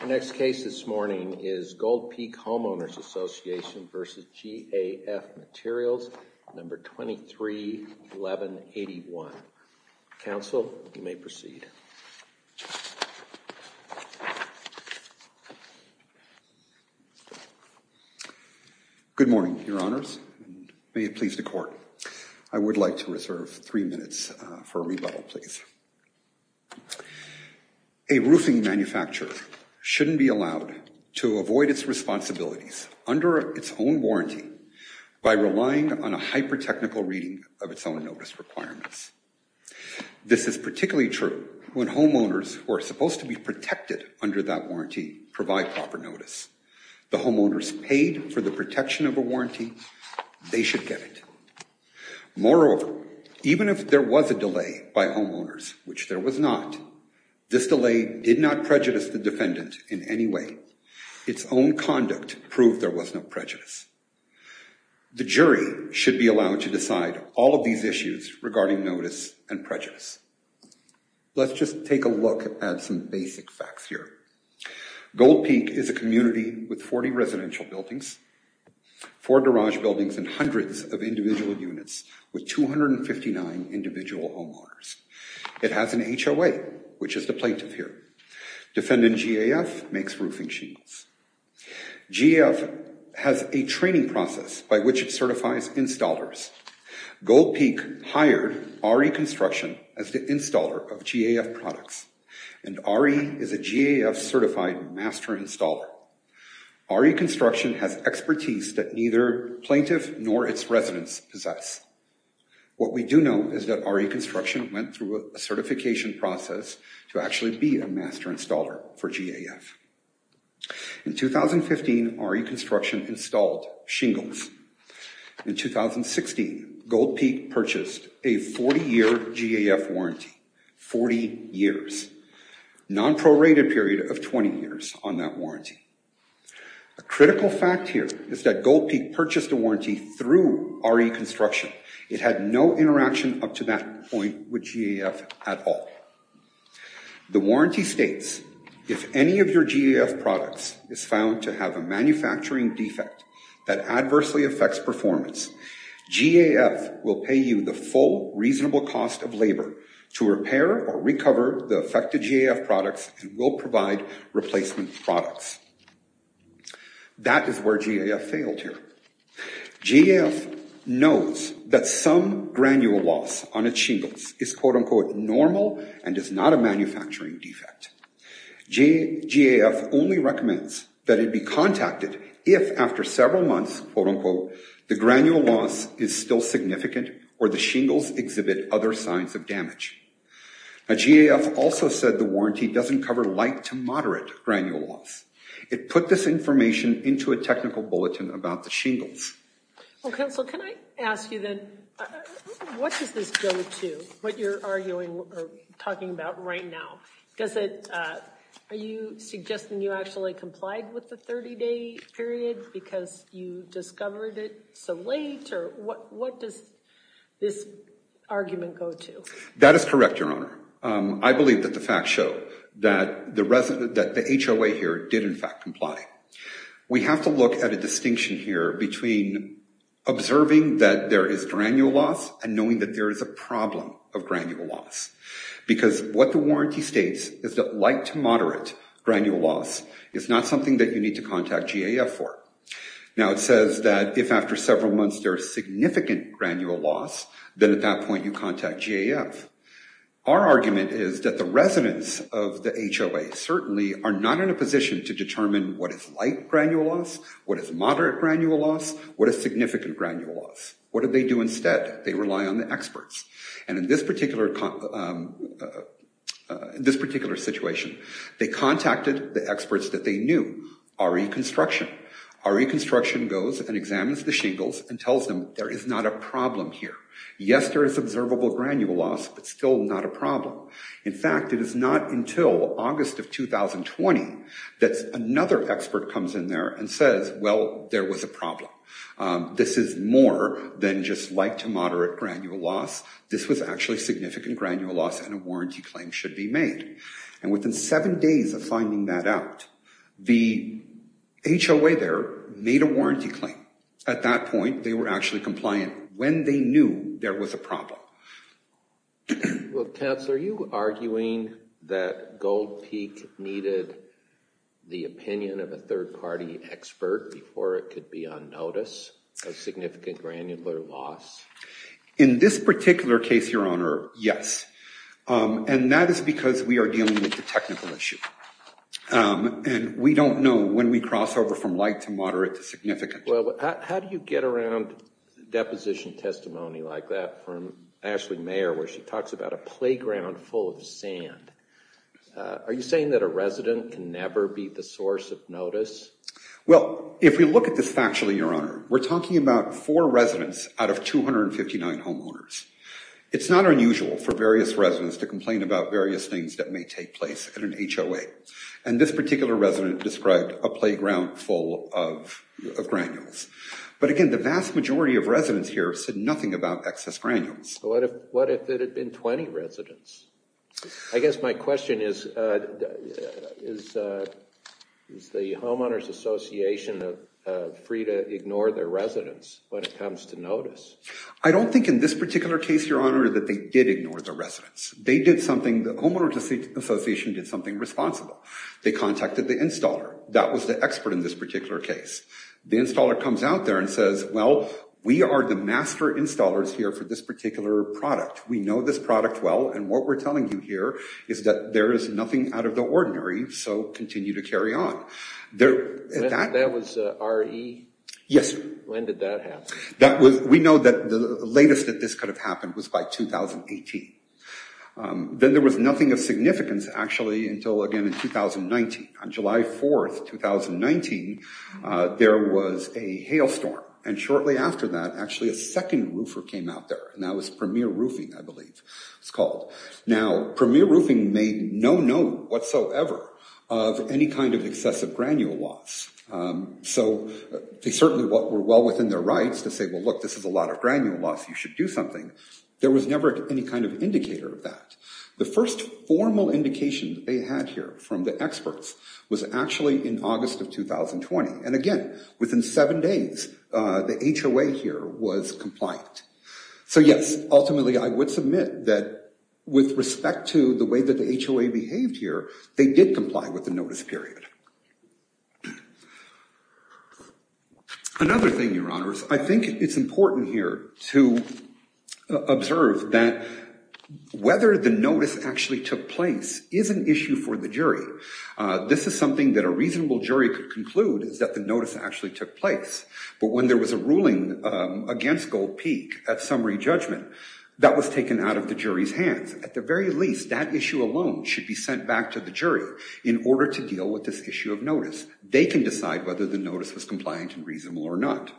The next case this morning is Gold Peak Homeowners Association v. GAF Materials, No. 231181. Counsel, you may proceed. Good morning, Your Honors. May it please the Court. I would like to reserve three minutes for a rebuttal, please. A roofing manufacturer shouldn't be allowed to avoid its responsibilities under its own warranty by relying on a hyper-technical reading of its own notice requirements. This is particularly true when homeowners who are supposed to be protected under that warranty provide proper notice. The homeowners paid for the protection of a warranty. They should get it. Moreover, even if there was a delay by homeowners, which there was not, this delay did not prejudice the defendant in any way. Its own conduct proved there was no prejudice. The jury should be allowed to decide all of these issues regarding notice and prejudice. Let's just take a look at some basic facts here. Gold Peak is a community with 40 residential buildings, 4 garage buildings, and hundreds of individual units with 259 individual homeowners. It has an HOA, which is the plaintiff here. Defendant GAF makes roofing sheets. GAF has a training process by which it certifies installers. Gold Peak hired RE Construction as the installer of GAF products, and RE is a GAF-certified master installer. RE Construction has expertise that neither plaintiff nor its residents possess. What we do know is that RE Construction went through a certification process to actually be a master installer for GAF. In 2015, RE Construction installed shingles. In 2016, Gold Peak purchased a 40-year GAF warranty, 40 years, non-prorated period of 20 years on that warranty. A critical fact here is that Gold Peak purchased a warranty through RE Construction. It had no interaction up to that point with GAF at all. The warranty states, if any of your GAF products is found to have a manufacturing defect that adversely affects performance, GAF will pay you the full reasonable cost of labor to repair or recover the affected GAF products and will provide replacement products. That is where GAF failed here. GAF knows that some granule loss on its shingles is, quote-unquote, normal and is not a manufacturing defect. GAF only recommends that it be contacted if, after several months, quote-unquote, the granule loss is still significant or the shingles exhibit other signs of damage. Now, GAF also said the warranty doesn't cover light to moderate granule loss. It put this information into a technical bulletin about the shingles. Well, Counsel, can I ask you then, what does this go to, what you're arguing or talking about right now? Are you suggesting you actually complied with the 30-day period because you discovered it so late, or what does this argument go to? That is correct, Your Honor. I believe that the facts show that the HOA here did, in fact, comply. We have to look at a distinction here between observing that there is granule loss and knowing that there is a problem of granule loss because what the warranty states is that light to moderate granule loss is not something that you need to contact GAF for. Now, it says that if after several months there is significant granule loss, then at that point you contact GAF. Our argument is that the residents of the HOA certainly are not in a position to determine what is light granule loss, what is moderate granule loss, what is significant granule loss. What do they do instead? They rely on the experts. And in this particular situation, they contacted the experts that they knew, RE Construction. RE Construction goes and examines the shingles and tells them there is not a problem here. Yes, there is observable granule loss, but still not a problem. In fact, it is not until August of 2020 that another expert comes in there and says, well, there was a problem. This is more than just light to moderate granule loss. This was actually significant granule loss and a warranty claim should be made. And within seven days of finding that out, the HOA there made a warranty claim. At that point, they were actually compliant when they knew there was a problem. Well, Councilor, are you arguing that Gold Peak needed the opinion of a third party expert before it could be on notice of significant granular loss? In this particular case, Your Honor, yes. And that is because we are dealing with a technical issue. And we don't know when we cross over from light to moderate to significant. Well, how do you get around deposition testimony like that from Ashley Mayer, where she talks about a playground full of sand? Are you saying that a resident can never be the source of notice? Well, if we look at this factually, Your Honor, we're talking about four residents out of 259 homeowners. It's not unusual for various residents to complain about various things that may take place at an HOA. And this particular resident described a playground full of granules. But again, the vast majority of residents here said nothing about excess granules. What if it had been 20 residents? I guess my question is, is the Homeowners Association free to ignore their residents when it comes to notice? I don't think in this particular case, Your Honor, that they did ignore the residents. They did something, the Homeowners Association did something responsible. They contacted the installer. That was the expert in this particular case. The installer comes out there and says, well, we are the master installers here for this particular product. We know this product well, and what we're telling you here is that there is nothing out of the ordinary, so continue to carry on. That was RE? Yes, sir. When did that happen? We know that the latest that this could have happened was by 2018. Then there was nothing of significance, actually, until again in 2019. On July 4th, 2019, there was a hailstorm. And shortly after that, actually a second roofer came out there, and that was Premier Roofing, I believe it's called. Now, Premier Roofing made no note whatsoever of any kind of excessive granule loss. So they certainly were well within their rights to say, well, look, this is a lot of granule loss. You should do something. There was never any kind of indicator of that. The first formal indication that they had here from the experts was actually in August of 2020. And again, within seven days, the HOA here was compliant. So, yes, ultimately I would submit that with respect to the way that the HOA behaved here, they did comply with the notice period. Another thing, Your Honors, I think it's important here to observe that whether the notice actually took place is an issue for the jury. This is something that a reasonable jury could conclude is that the notice actually took place. But when there was a ruling against Gold Peak at summary judgment, that was taken out of the jury's hands. At the very least, that issue alone should be sent back to the jury in order to deal with this issue of notice. They can decide whether the notice was compliant and reasonable or not.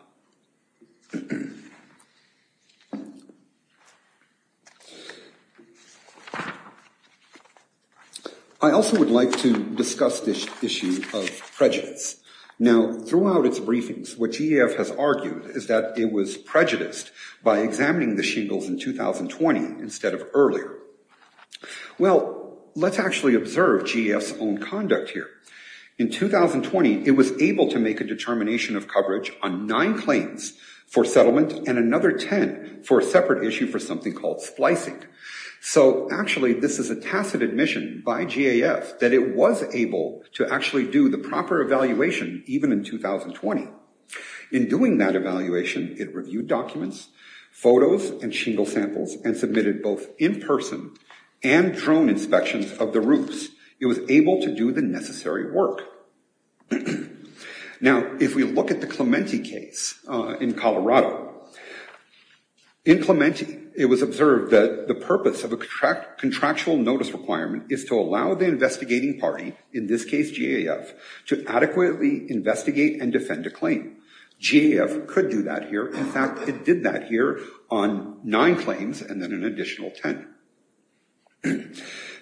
I also would like to discuss this issue of prejudice. Now, throughout its briefings, what GAF has argued is that it was prejudiced by examining the shingles in 2020 instead of earlier. Well, let's actually observe GAF's own conduct here. In 2020, it was able to make a determination of coverage on nine claims for settlement and another 10 for a separate issue for something called splicing. So actually, this is a tacit admission by GAF that it was able to actually do the proper evaluation even in 2020. In doing that evaluation, it reviewed documents, photos, and shingle samples and submitted both in-person and drone inspections of the roofs. It was able to do the necessary work. Now, if we look at the Clementi case in Colorado, in Clementi, it was observed that the purpose of a contractual notice requirement is to allow the investigating party, in this case GAF, to adequately investigate and defend a claim. GAF could do that here. In fact, it did that here on nine claims and then an additional 10.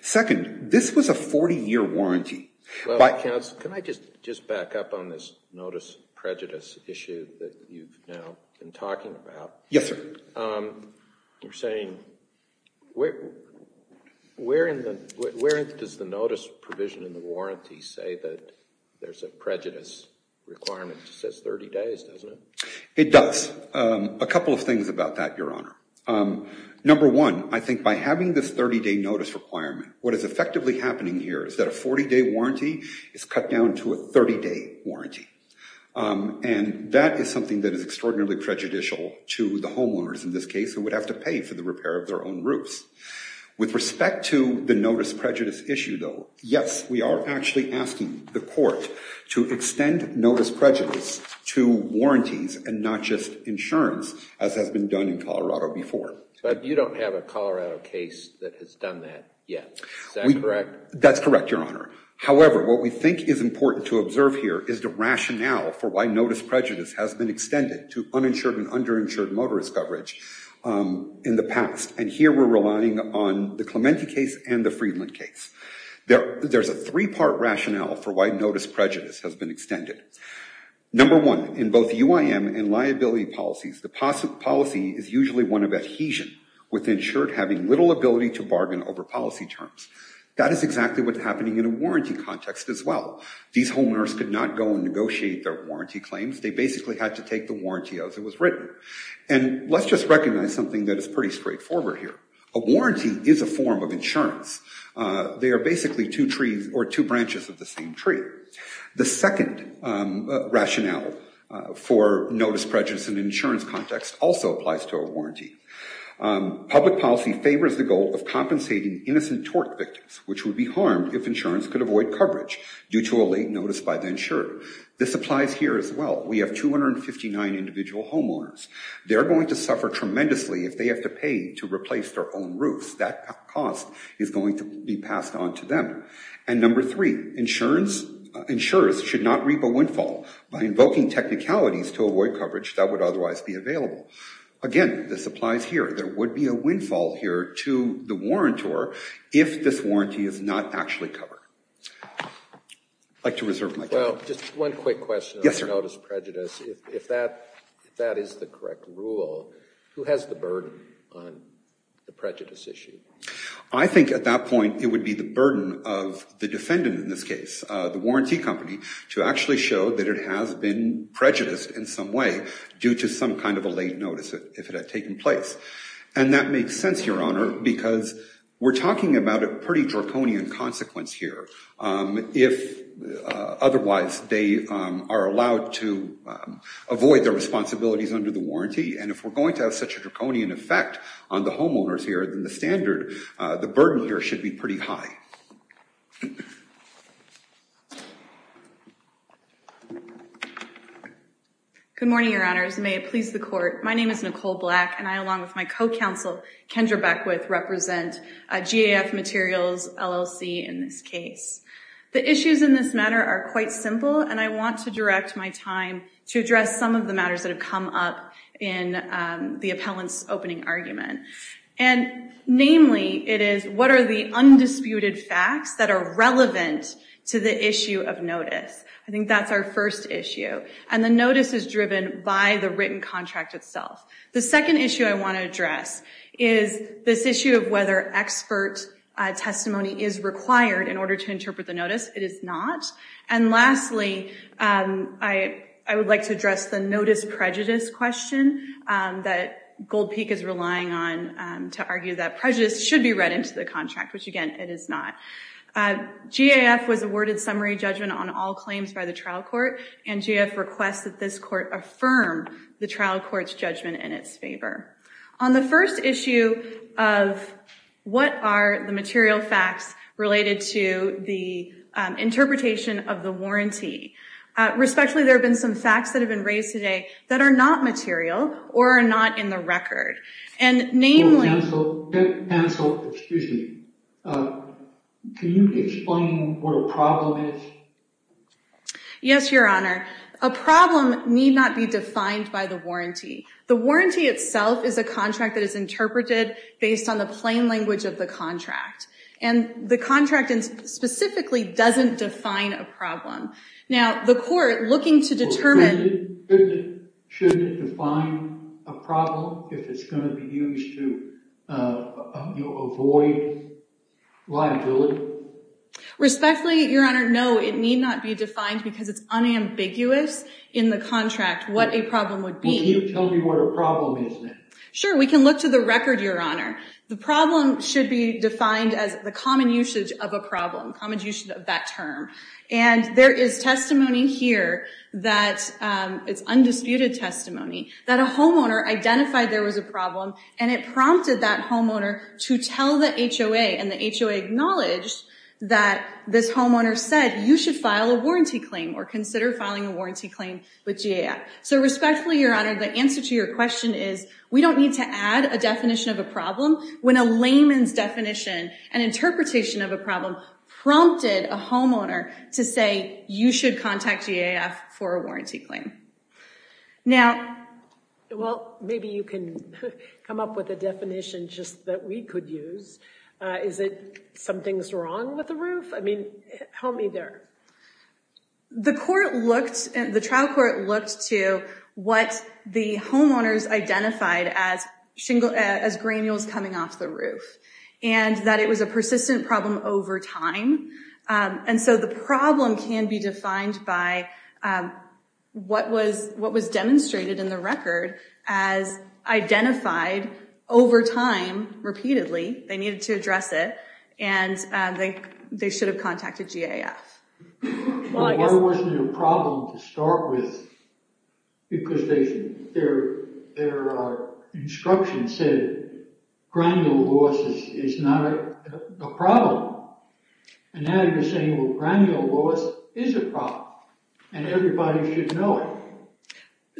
Second, this was a 40-year warranty. Well, counsel, can I just back up on this notice prejudice issue that you've now been talking about? Yes, sir. You're saying, where does the notice provision in the warranty say that there's a prejudice requirement that says 30 days, doesn't it? It does. A couple of things about that, Your Honor. Number one, I think by having this 30-day notice requirement, what is effectively happening here is that a 40-day warranty is cut down to a 30-day warranty. And that is something that is extraordinarily prejudicial to the homeowners in this case who would have to pay for the repair of their own roofs. With respect to the notice prejudice issue, though, yes, we are actually asking the court to extend notice prejudice to warranties and not just insurance, as has been done in Colorado before. But you don't have a Colorado case that has done that yet. Is that correct? That's correct, Your Honor. However, what we think is important to observe here is the rationale for why notice prejudice has been extended to uninsured and underinsured motorist coverage in the past. And here we're relying on the Clementi case and the Friedland case. There's a three-part rationale for why notice prejudice has been extended. Number one, in both UIM and liability policies, the policy is usually one of adhesion, with insured having little ability to bargain over policy terms. That is exactly what's happening in a warranty context as well. These homeowners could not go and negotiate their warranty claims. They basically had to take the warranty as it was written. And let's just recognize something that is pretty straightforward here. A warranty is a form of insurance. They are basically two trees or two branches of the same tree. The second rationale for notice prejudice in an insurance context also applies to a warranty. Public policy favors the goal of compensating innocent tort victims, which would be harmed if insurance could avoid coverage due to a late notice by the insured. This applies here as well. We have 259 individual homeowners. They're going to suffer tremendously if they have to pay to replace their own roofs. That cost is going to be passed on to them. And number three, insurers should not reap a windfall by invoking technicalities to avoid coverage that would otherwise be available. Again, this applies here. There would be a windfall here to the warrantor if this warranty is not actually covered. I'd like to reserve my time. Well, just one quick question on notice prejudice. If that is the correct rule, who has the burden on the prejudice issue? I think at that point it would be the burden of the defendant in this case, the warranty company, to actually show that it has been prejudiced in some way due to some kind of a late notice if it had taken place. And that makes sense, Your Honor, because we're talking about a pretty draconian consequence here. If otherwise, they are allowed to avoid their responsibilities under the warranty. And if we're going to have such a draconian effect on the homeowners here, then the standard, the burden here should be pretty high. Good morning, Your Honors. May it please the Court. My name is Nicole Black, and I, along with my co-counsel, Kendra Beckwith, represent GAF Materials LLC in this case. The issues in this matter are quite simple, and I want to direct my time to address some of the matters that have come up in the appellant's opening argument. And namely, it is what are the undisputed facts that are relevant to the issue of notice? I think that's our first issue. And the notice is driven by the written contract itself. The second issue I want to address is this issue of whether expert testimony is required in order to interpret the notice. It is not. And lastly, I would like to address the notice prejudice question that Gold Peak is relying on to argue that prejudice should be read into the contract, which, again, it is not. GAF was awarded summary judgment on all claims by the trial court, and GAF requests that this court affirm the trial court's judgment in its favor. On the first issue of what are the material facts related to the interpretation of the warranty, respectfully, there have been some facts that have been raised today that are not material or are not in the record. Counsel, excuse me. Can you explain what a problem is? Yes, Your Honor. A problem need not be defined by the warranty. The warranty itself is a contract that is interpreted based on the plain language of the contract. And the contract specifically doesn't define a problem. Shouldn't it define a problem if it's going to be used to avoid liability? Respectfully, Your Honor, no. It need not be defined because it's unambiguous in the contract what a problem would be. Well, can you tell me what a problem is then? Sure. We can look to the record, Your Honor. The problem should be defined as the common usage of a problem, common usage of that term. And there is testimony here that, it's undisputed testimony, that a homeowner identified there was a problem and it prompted that homeowner to tell the HOA and the HOA acknowledged that this homeowner said, you should file a warranty claim or consider filing a warranty claim with GAF. So respectfully, Your Honor, the answer to your question is we don't need to add a definition of a problem when a layman's definition and interpretation of a problem prompted a homeowner to say, you should contact GAF for a warranty claim. Now, well, maybe you can come up with a definition just that we could use. Is it something's wrong with the roof? I mean, help me there. The trial court looked to what the homeowners identified as granules coming off the roof and that it was a persistent problem over time. And so the problem can be defined by what was demonstrated in the record as identified over time repeatedly. They needed to address it, and they should have contacted GAF. Well, why wasn't it a problem to start with? Because their instruction said granule loss is not a problem. And now you're saying, well, granule loss is a problem, and everybody should know it.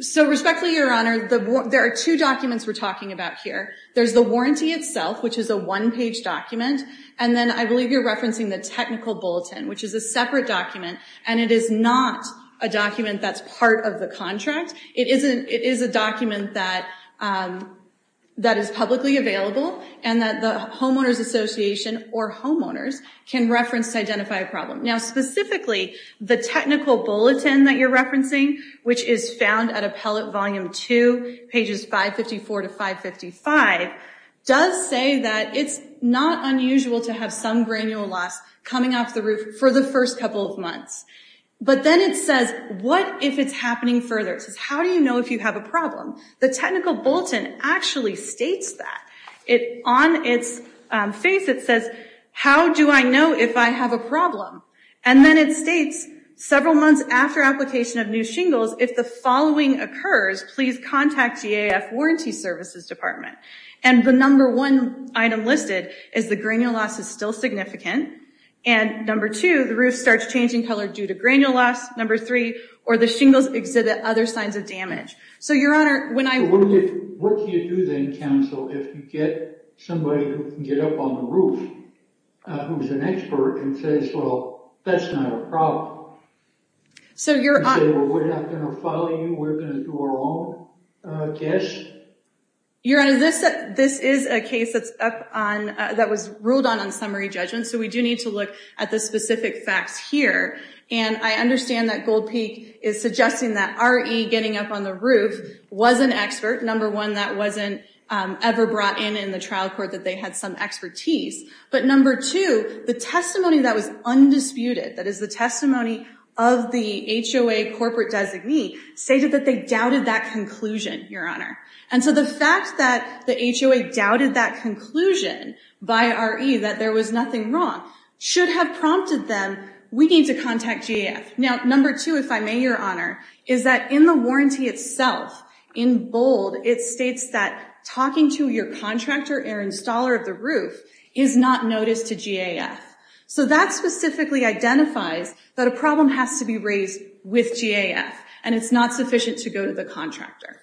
So respectfully, Your Honor, there are two documents we're talking about here. There's the warranty itself, which is a one-page document, and then I believe you're referencing the technical bulletin, which is a separate document, and it is not a document that's part of the contract. It is a document that is publicly available and that the homeowners association or homeowners can reference to identify a problem. Now, specifically, the technical bulletin that you're referencing, which is found at Appellate Volume 2, pages 554 to 555, does say that it's not unusual to have some granule loss coming off the roof for the first couple of months. But then it says, what if it's happening further? It says, how do you know if you have a problem? The technical bulletin actually states that. On its face it says, how do I know if I have a problem? And then it states, several months after application of new shingles, if the following occurs, please contact GAF Warranty Services Department. And the number one item listed is the granule loss is still significant, and number two, the roof starts changing color due to granule loss, number three, or the shingles exhibit other signs of damage. So, Your Honor, when I- What do you do then, counsel, if you get somebody who can get up on the roof, who's an expert, and says, well, that's not a problem? So, Your Honor- You say, well, we're not going to follow you, we're going to do our own guess? Your Honor, this is a case that's up on- that was ruled on on summary judgment, so we do need to look at the specific facts here. And I understand that Gold Peak is suggesting that RE getting up on the roof was an expert, number one, that wasn't ever brought in in the trial court, that they had some expertise, but number two, the testimony that was undisputed, that is the testimony of the HOA corporate designee, stated that they doubted that conclusion, Your Honor. And so the fact that the HOA doubted that conclusion by RE, that there was nothing wrong, should have prompted them, we need to contact GAF. Now, number two, if I may, Your Honor, is that in the warranty itself, in bold, it states that talking to your contractor or installer of the roof is not noticed to GAF. So that specifically identifies that a problem has to be raised with GAF, and it's not sufficient to go to the contractor.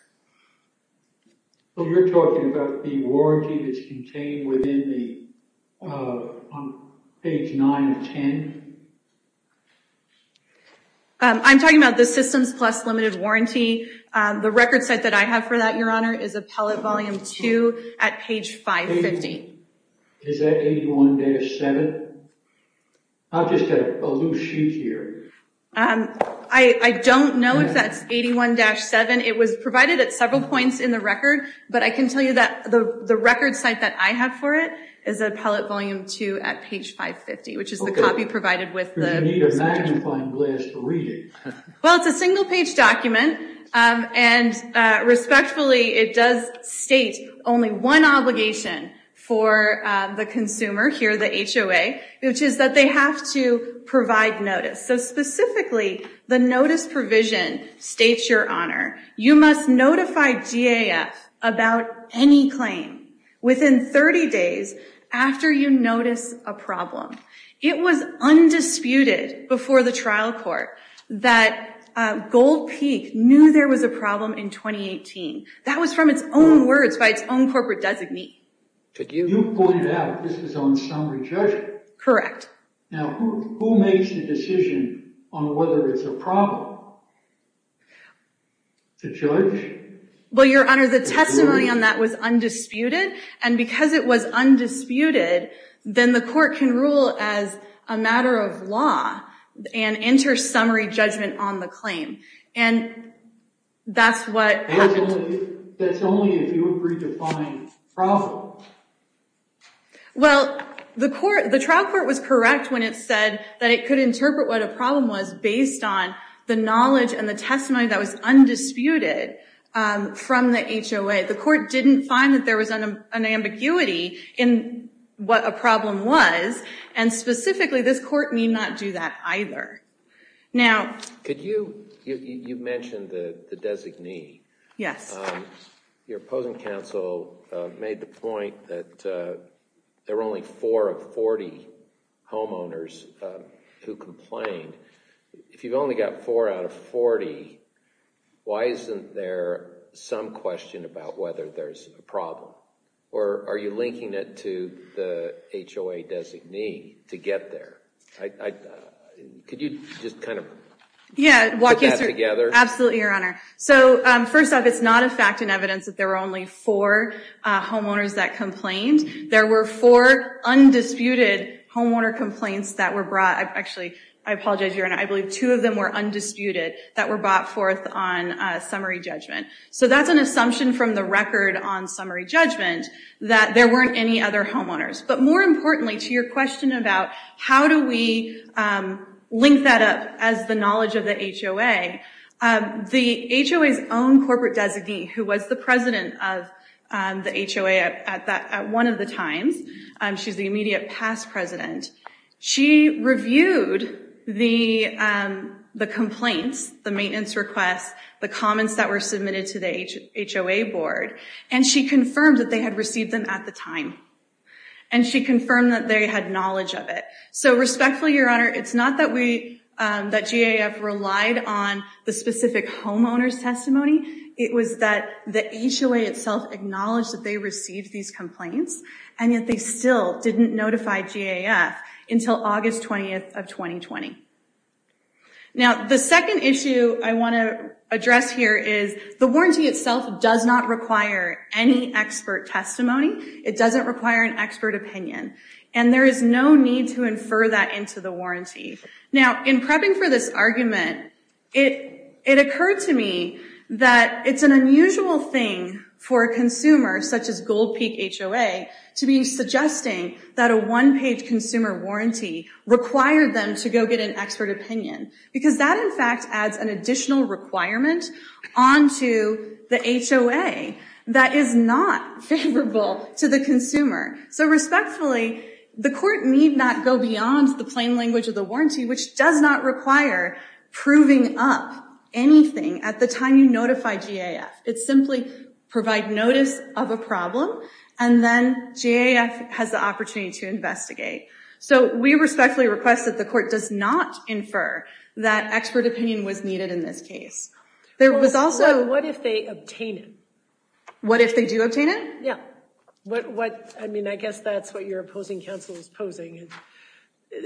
So you're talking about the warranty that's contained within the- on page 9 of 10? I'm talking about the systems plus limited warranty. The record set that I have for that, Your Honor, is appellate volume 2 at page 550. Is that 81-7? I've just got a loose sheet here. I don't know if that's 81-7. It was provided at several points in the record, but I can tell you that the record site that I have for it is appellate volume 2 at page 550, which is the copy provided with the- You need a magnifying glass to read it. Well, it's a single-page document, and respectfully, it does state only one obligation for the consumer here, the HOA, which is that they have to provide notice. So specifically, the notice provision states, Your Honor, you must notify GAF about any claim within 30 days after you notice a problem. It was undisputed before the trial court that Gold Peak knew there was a problem in 2018. That was from its own words by its own corporate designee. Could you- You pointed out this is on summary judgment. Correct. Now, who makes the decision on whether it's a problem? The judge? Well, Your Honor, the testimony on that was undisputed, and because it was undisputed, then the court can rule as a matter of law and enter summary judgment on the claim, and that's what happened. That's only if you agree to find a problem. Well, the trial court was correct when it said that it could interpret what a problem was based on the knowledge and the testimony that was undisputed from the HOA. The court didn't find that there was an ambiguity in what a problem was, and specifically, this court need not do that either. Now- Could you- You mentioned the designee. Yes. Your opposing counsel made the point that there were only four of 40 homeowners who complained. If you've only got four out of 40, why isn't there some question about whether there's a problem, or are you linking it to the HOA designee to get there? Could you just kind of put that together? Absolutely, Your Honor. First off, it's not a fact and evidence that there were only four homeowners that complained. There were four undisputed homeowner complaints that were brought- Actually, I apologize, Your Honor. I believe two of them were undisputed that were brought forth on summary judgment. So that's an assumption from the record on summary judgment, that there weren't any other homeowners. But more importantly, to your question about how do we link that up as the knowledge of the HOA, the HOA's own corporate designee, who was the president of the HOA at one of the times, she's the immediate past president, she reviewed the complaints, the maintenance requests, the comments that were submitted to the HOA board, and she confirmed that they had received them at the time. And she confirmed that they had knowledge of it. So respectfully, Your Honor, it's not that GAF relied on the specific homeowners' testimony. It was that the HOA itself acknowledged that they received these complaints, and yet they still didn't notify GAF until August 20th of 2020. Now, the second issue I want to address here is the warranty itself does not require any expert testimony. It doesn't require an expert opinion. And there is no need to infer that into the warranty. Now, in prepping for this argument, it occurred to me that it's an unusual thing for a consumer, such as Gold Peak HOA, to be suggesting that a one-page consumer warranty required them to go get an expert opinion. Because that, in fact, adds an additional requirement onto the HOA that is not favorable to the consumer. So respectfully, the court need not go beyond the plain language of the warranty, which does not require proving up anything at the time you notify GAF. It's simply provide notice of a problem, and then GAF has the opportunity to investigate. So we respectfully request that the court does not infer that expert opinion was needed in this case. There was also— What if they obtain it? What if they do obtain it? Yeah. I mean, I guess that's what your opposing counsel is posing.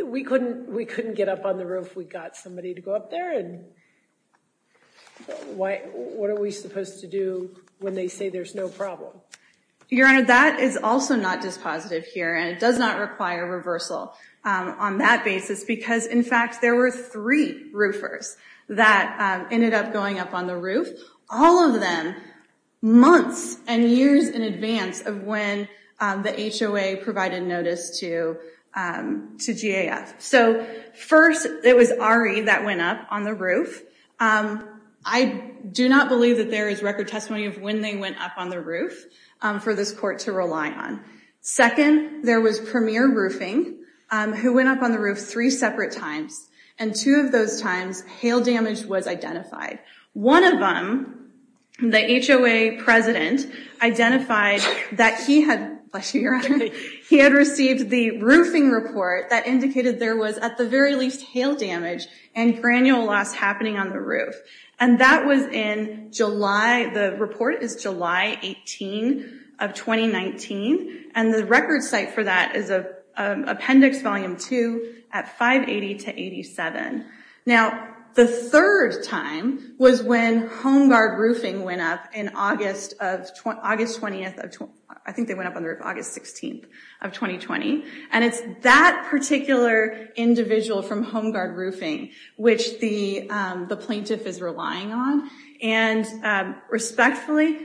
We couldn't get up on the roof. We got somebody to go up there, and what are we supposed to do when they say there's no problem? Your Honor, that is also not dispositive here, and it does not require reversal on that basis. Because, in fact, there were three roofers that ended up going up on the roof, all of them months and years in advance of when the HOA provided notice to GAF. So, first, it was Ari that went up on the roof. I do not believe that there is record testimony of when they went up on the roof for this court to rely on. Second, there was Premier Roofing, who went up on the roof three separate times, and two of those times hail damage was identified. One of them, the HOA president, identified that he had received the roofing report that indicated there was, at the very least, hail damage and granule loss happening on the roof. And that was in July—the report is July 18 of 2019, and the record site for that is Appendix Volume 2 at 580-87. Now, the third time was when Home Guard Roofing went up in August 20—I think they went up on the roof August 16 of 2020. And it's that particular individual from Home Guard Roofing which the plaintiff is relying on. And, respectfully,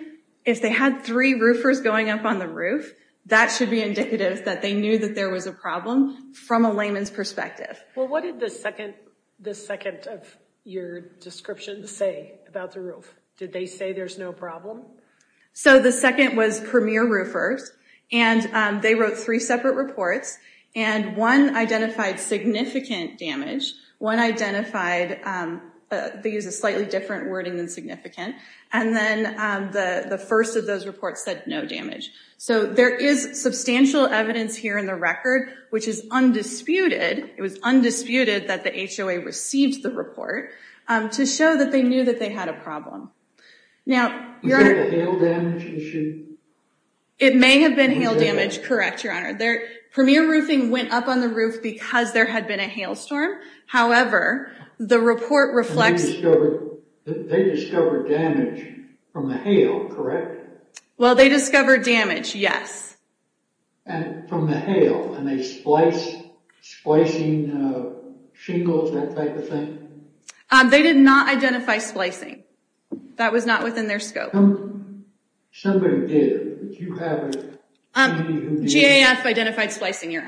if they had three roofers going up on the roof, that should be indicative that they knew that there was a problem from a layman's perspective. Well, what did the second of your descriptions say about the roof? Did they say there's no problem? So the second was Premier Roofers, and they wrote three separate reports, and one identified significant damage. One identified—they used a slightly different wording than significant. And then the first of those reports said no damage. So there is substantial evidence here in the record which is undisputed— it was undisputed that the HOA received the report to show that they knew that they had a problem. Now— Was that a hail damage issue? It may have been hail damage, correct, Your Honor. Premier Roofing went up on the roof because there had been a hailstorm. However, the report reflects— They discovered damage from the hail, correct? Well, they discovered damage, yes. And from the hail, and they spliced, splicing shingles, that type of thing? They did not identify splicing. That was not within their scope. Somebody did. You have a— GAF identified splicing, Your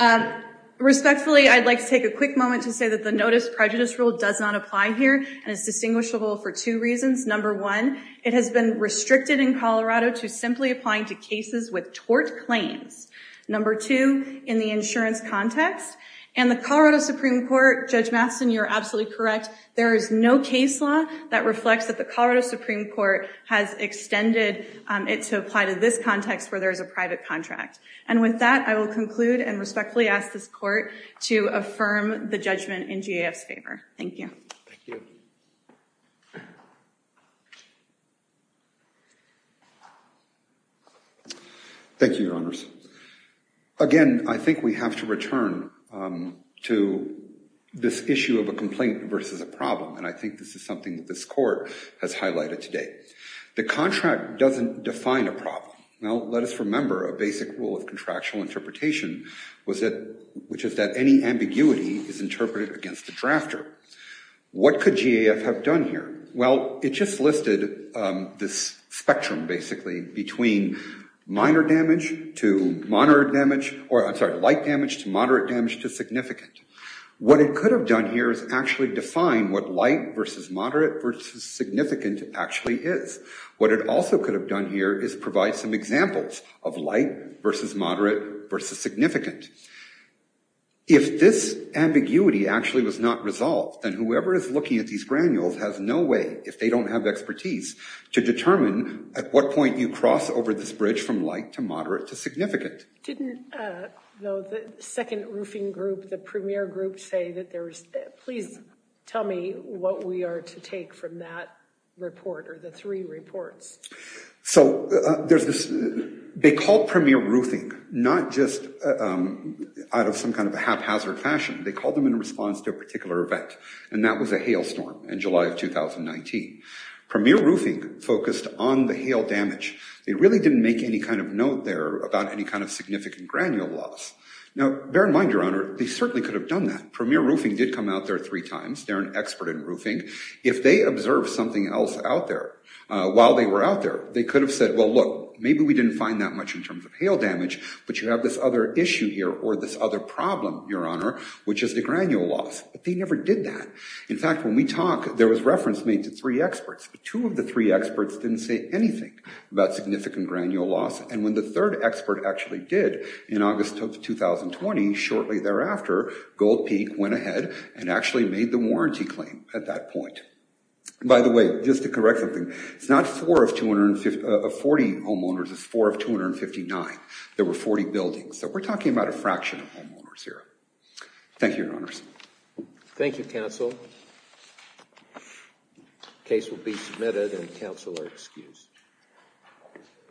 Honor. Respectfully, I'd like to take a quick moment to say that the Notice Prejudice Rule does not apply here, and it's distinguishable for two reasons. Number one, it has been restricted in Colorado to simply applying to cases with tort claims. Number two, in the insurance context. And the Colorado Supreme Court, Judge Matheson, you're absolutely correct. There is no case law that reflects that the Colorado Supreme Court has extended it to apply to this context where there is a private contract. And with that, I will conclude and respectfully ask this Court to affirm the judgment in GAF's favor. Thank you. Thank you. Thank you, Your Honors. Again, I think we have to return to this issue of a complaint versus a problem, and I think this is something that this Court has highlighted today. The contract doesn't define a problem. Now, let us remember a basic rule of contractual interpretation, which is that any ambiguity is interpreted against the drafter. What could GAF have done here? Well, it just listed this spectrum, basically, between minor damage to moderate damage, or I'm sorry, light damage to moderate damage to significant. What it could have done here is actually define what light versus moderate versus significant actually is. What it also could have done here is provide some examples of light versus moderate versus significant. If this ambiguity actually was not resolved, then whoever is looking at these granules has no way, if they don't have expertise, to determine at what point you cross over this bridge from light to moderate to significant. Didn't, though, the second roofing group, the premier group, say that there is, please tell me what we are to take from that report or the three reports. So they called premier roofing, not just out of some kind of a haphazard fashion. They called them in response to a particular event, and that was a hail storm in July of 2019. Premier roofing focused on the hail damage. They really didn't make any kind of note there about any kind of significant granule loss. Now, bear in mind, Your Honor, they certainly could have done that. Premier roofing did come out there three times. They're an expert in roofing. If they observed something else out there while they were out there, they could have said, well, look, maybe we didn't find that much in terms of hail damage, but you have this other issue here or this other problem, Your Honor, which is the granule loss. But they never did that. In fact, when we talk, there was reference made to three experts, but two of the three experts didn't say anything about significant granule loss, and when the third expert actually did in August of 2020, shortly thereafter, Gold Peak went ahead and actually made the warranty claim at that point. By the way, just to correct something, it's not four of 240 homeowners. It's four of 259. There were 40 buildings, so we're talking about a fraction of homeowners here. Thank you, Your Honors. Thank you, counsel. Case will be submitted, and counsel are excused.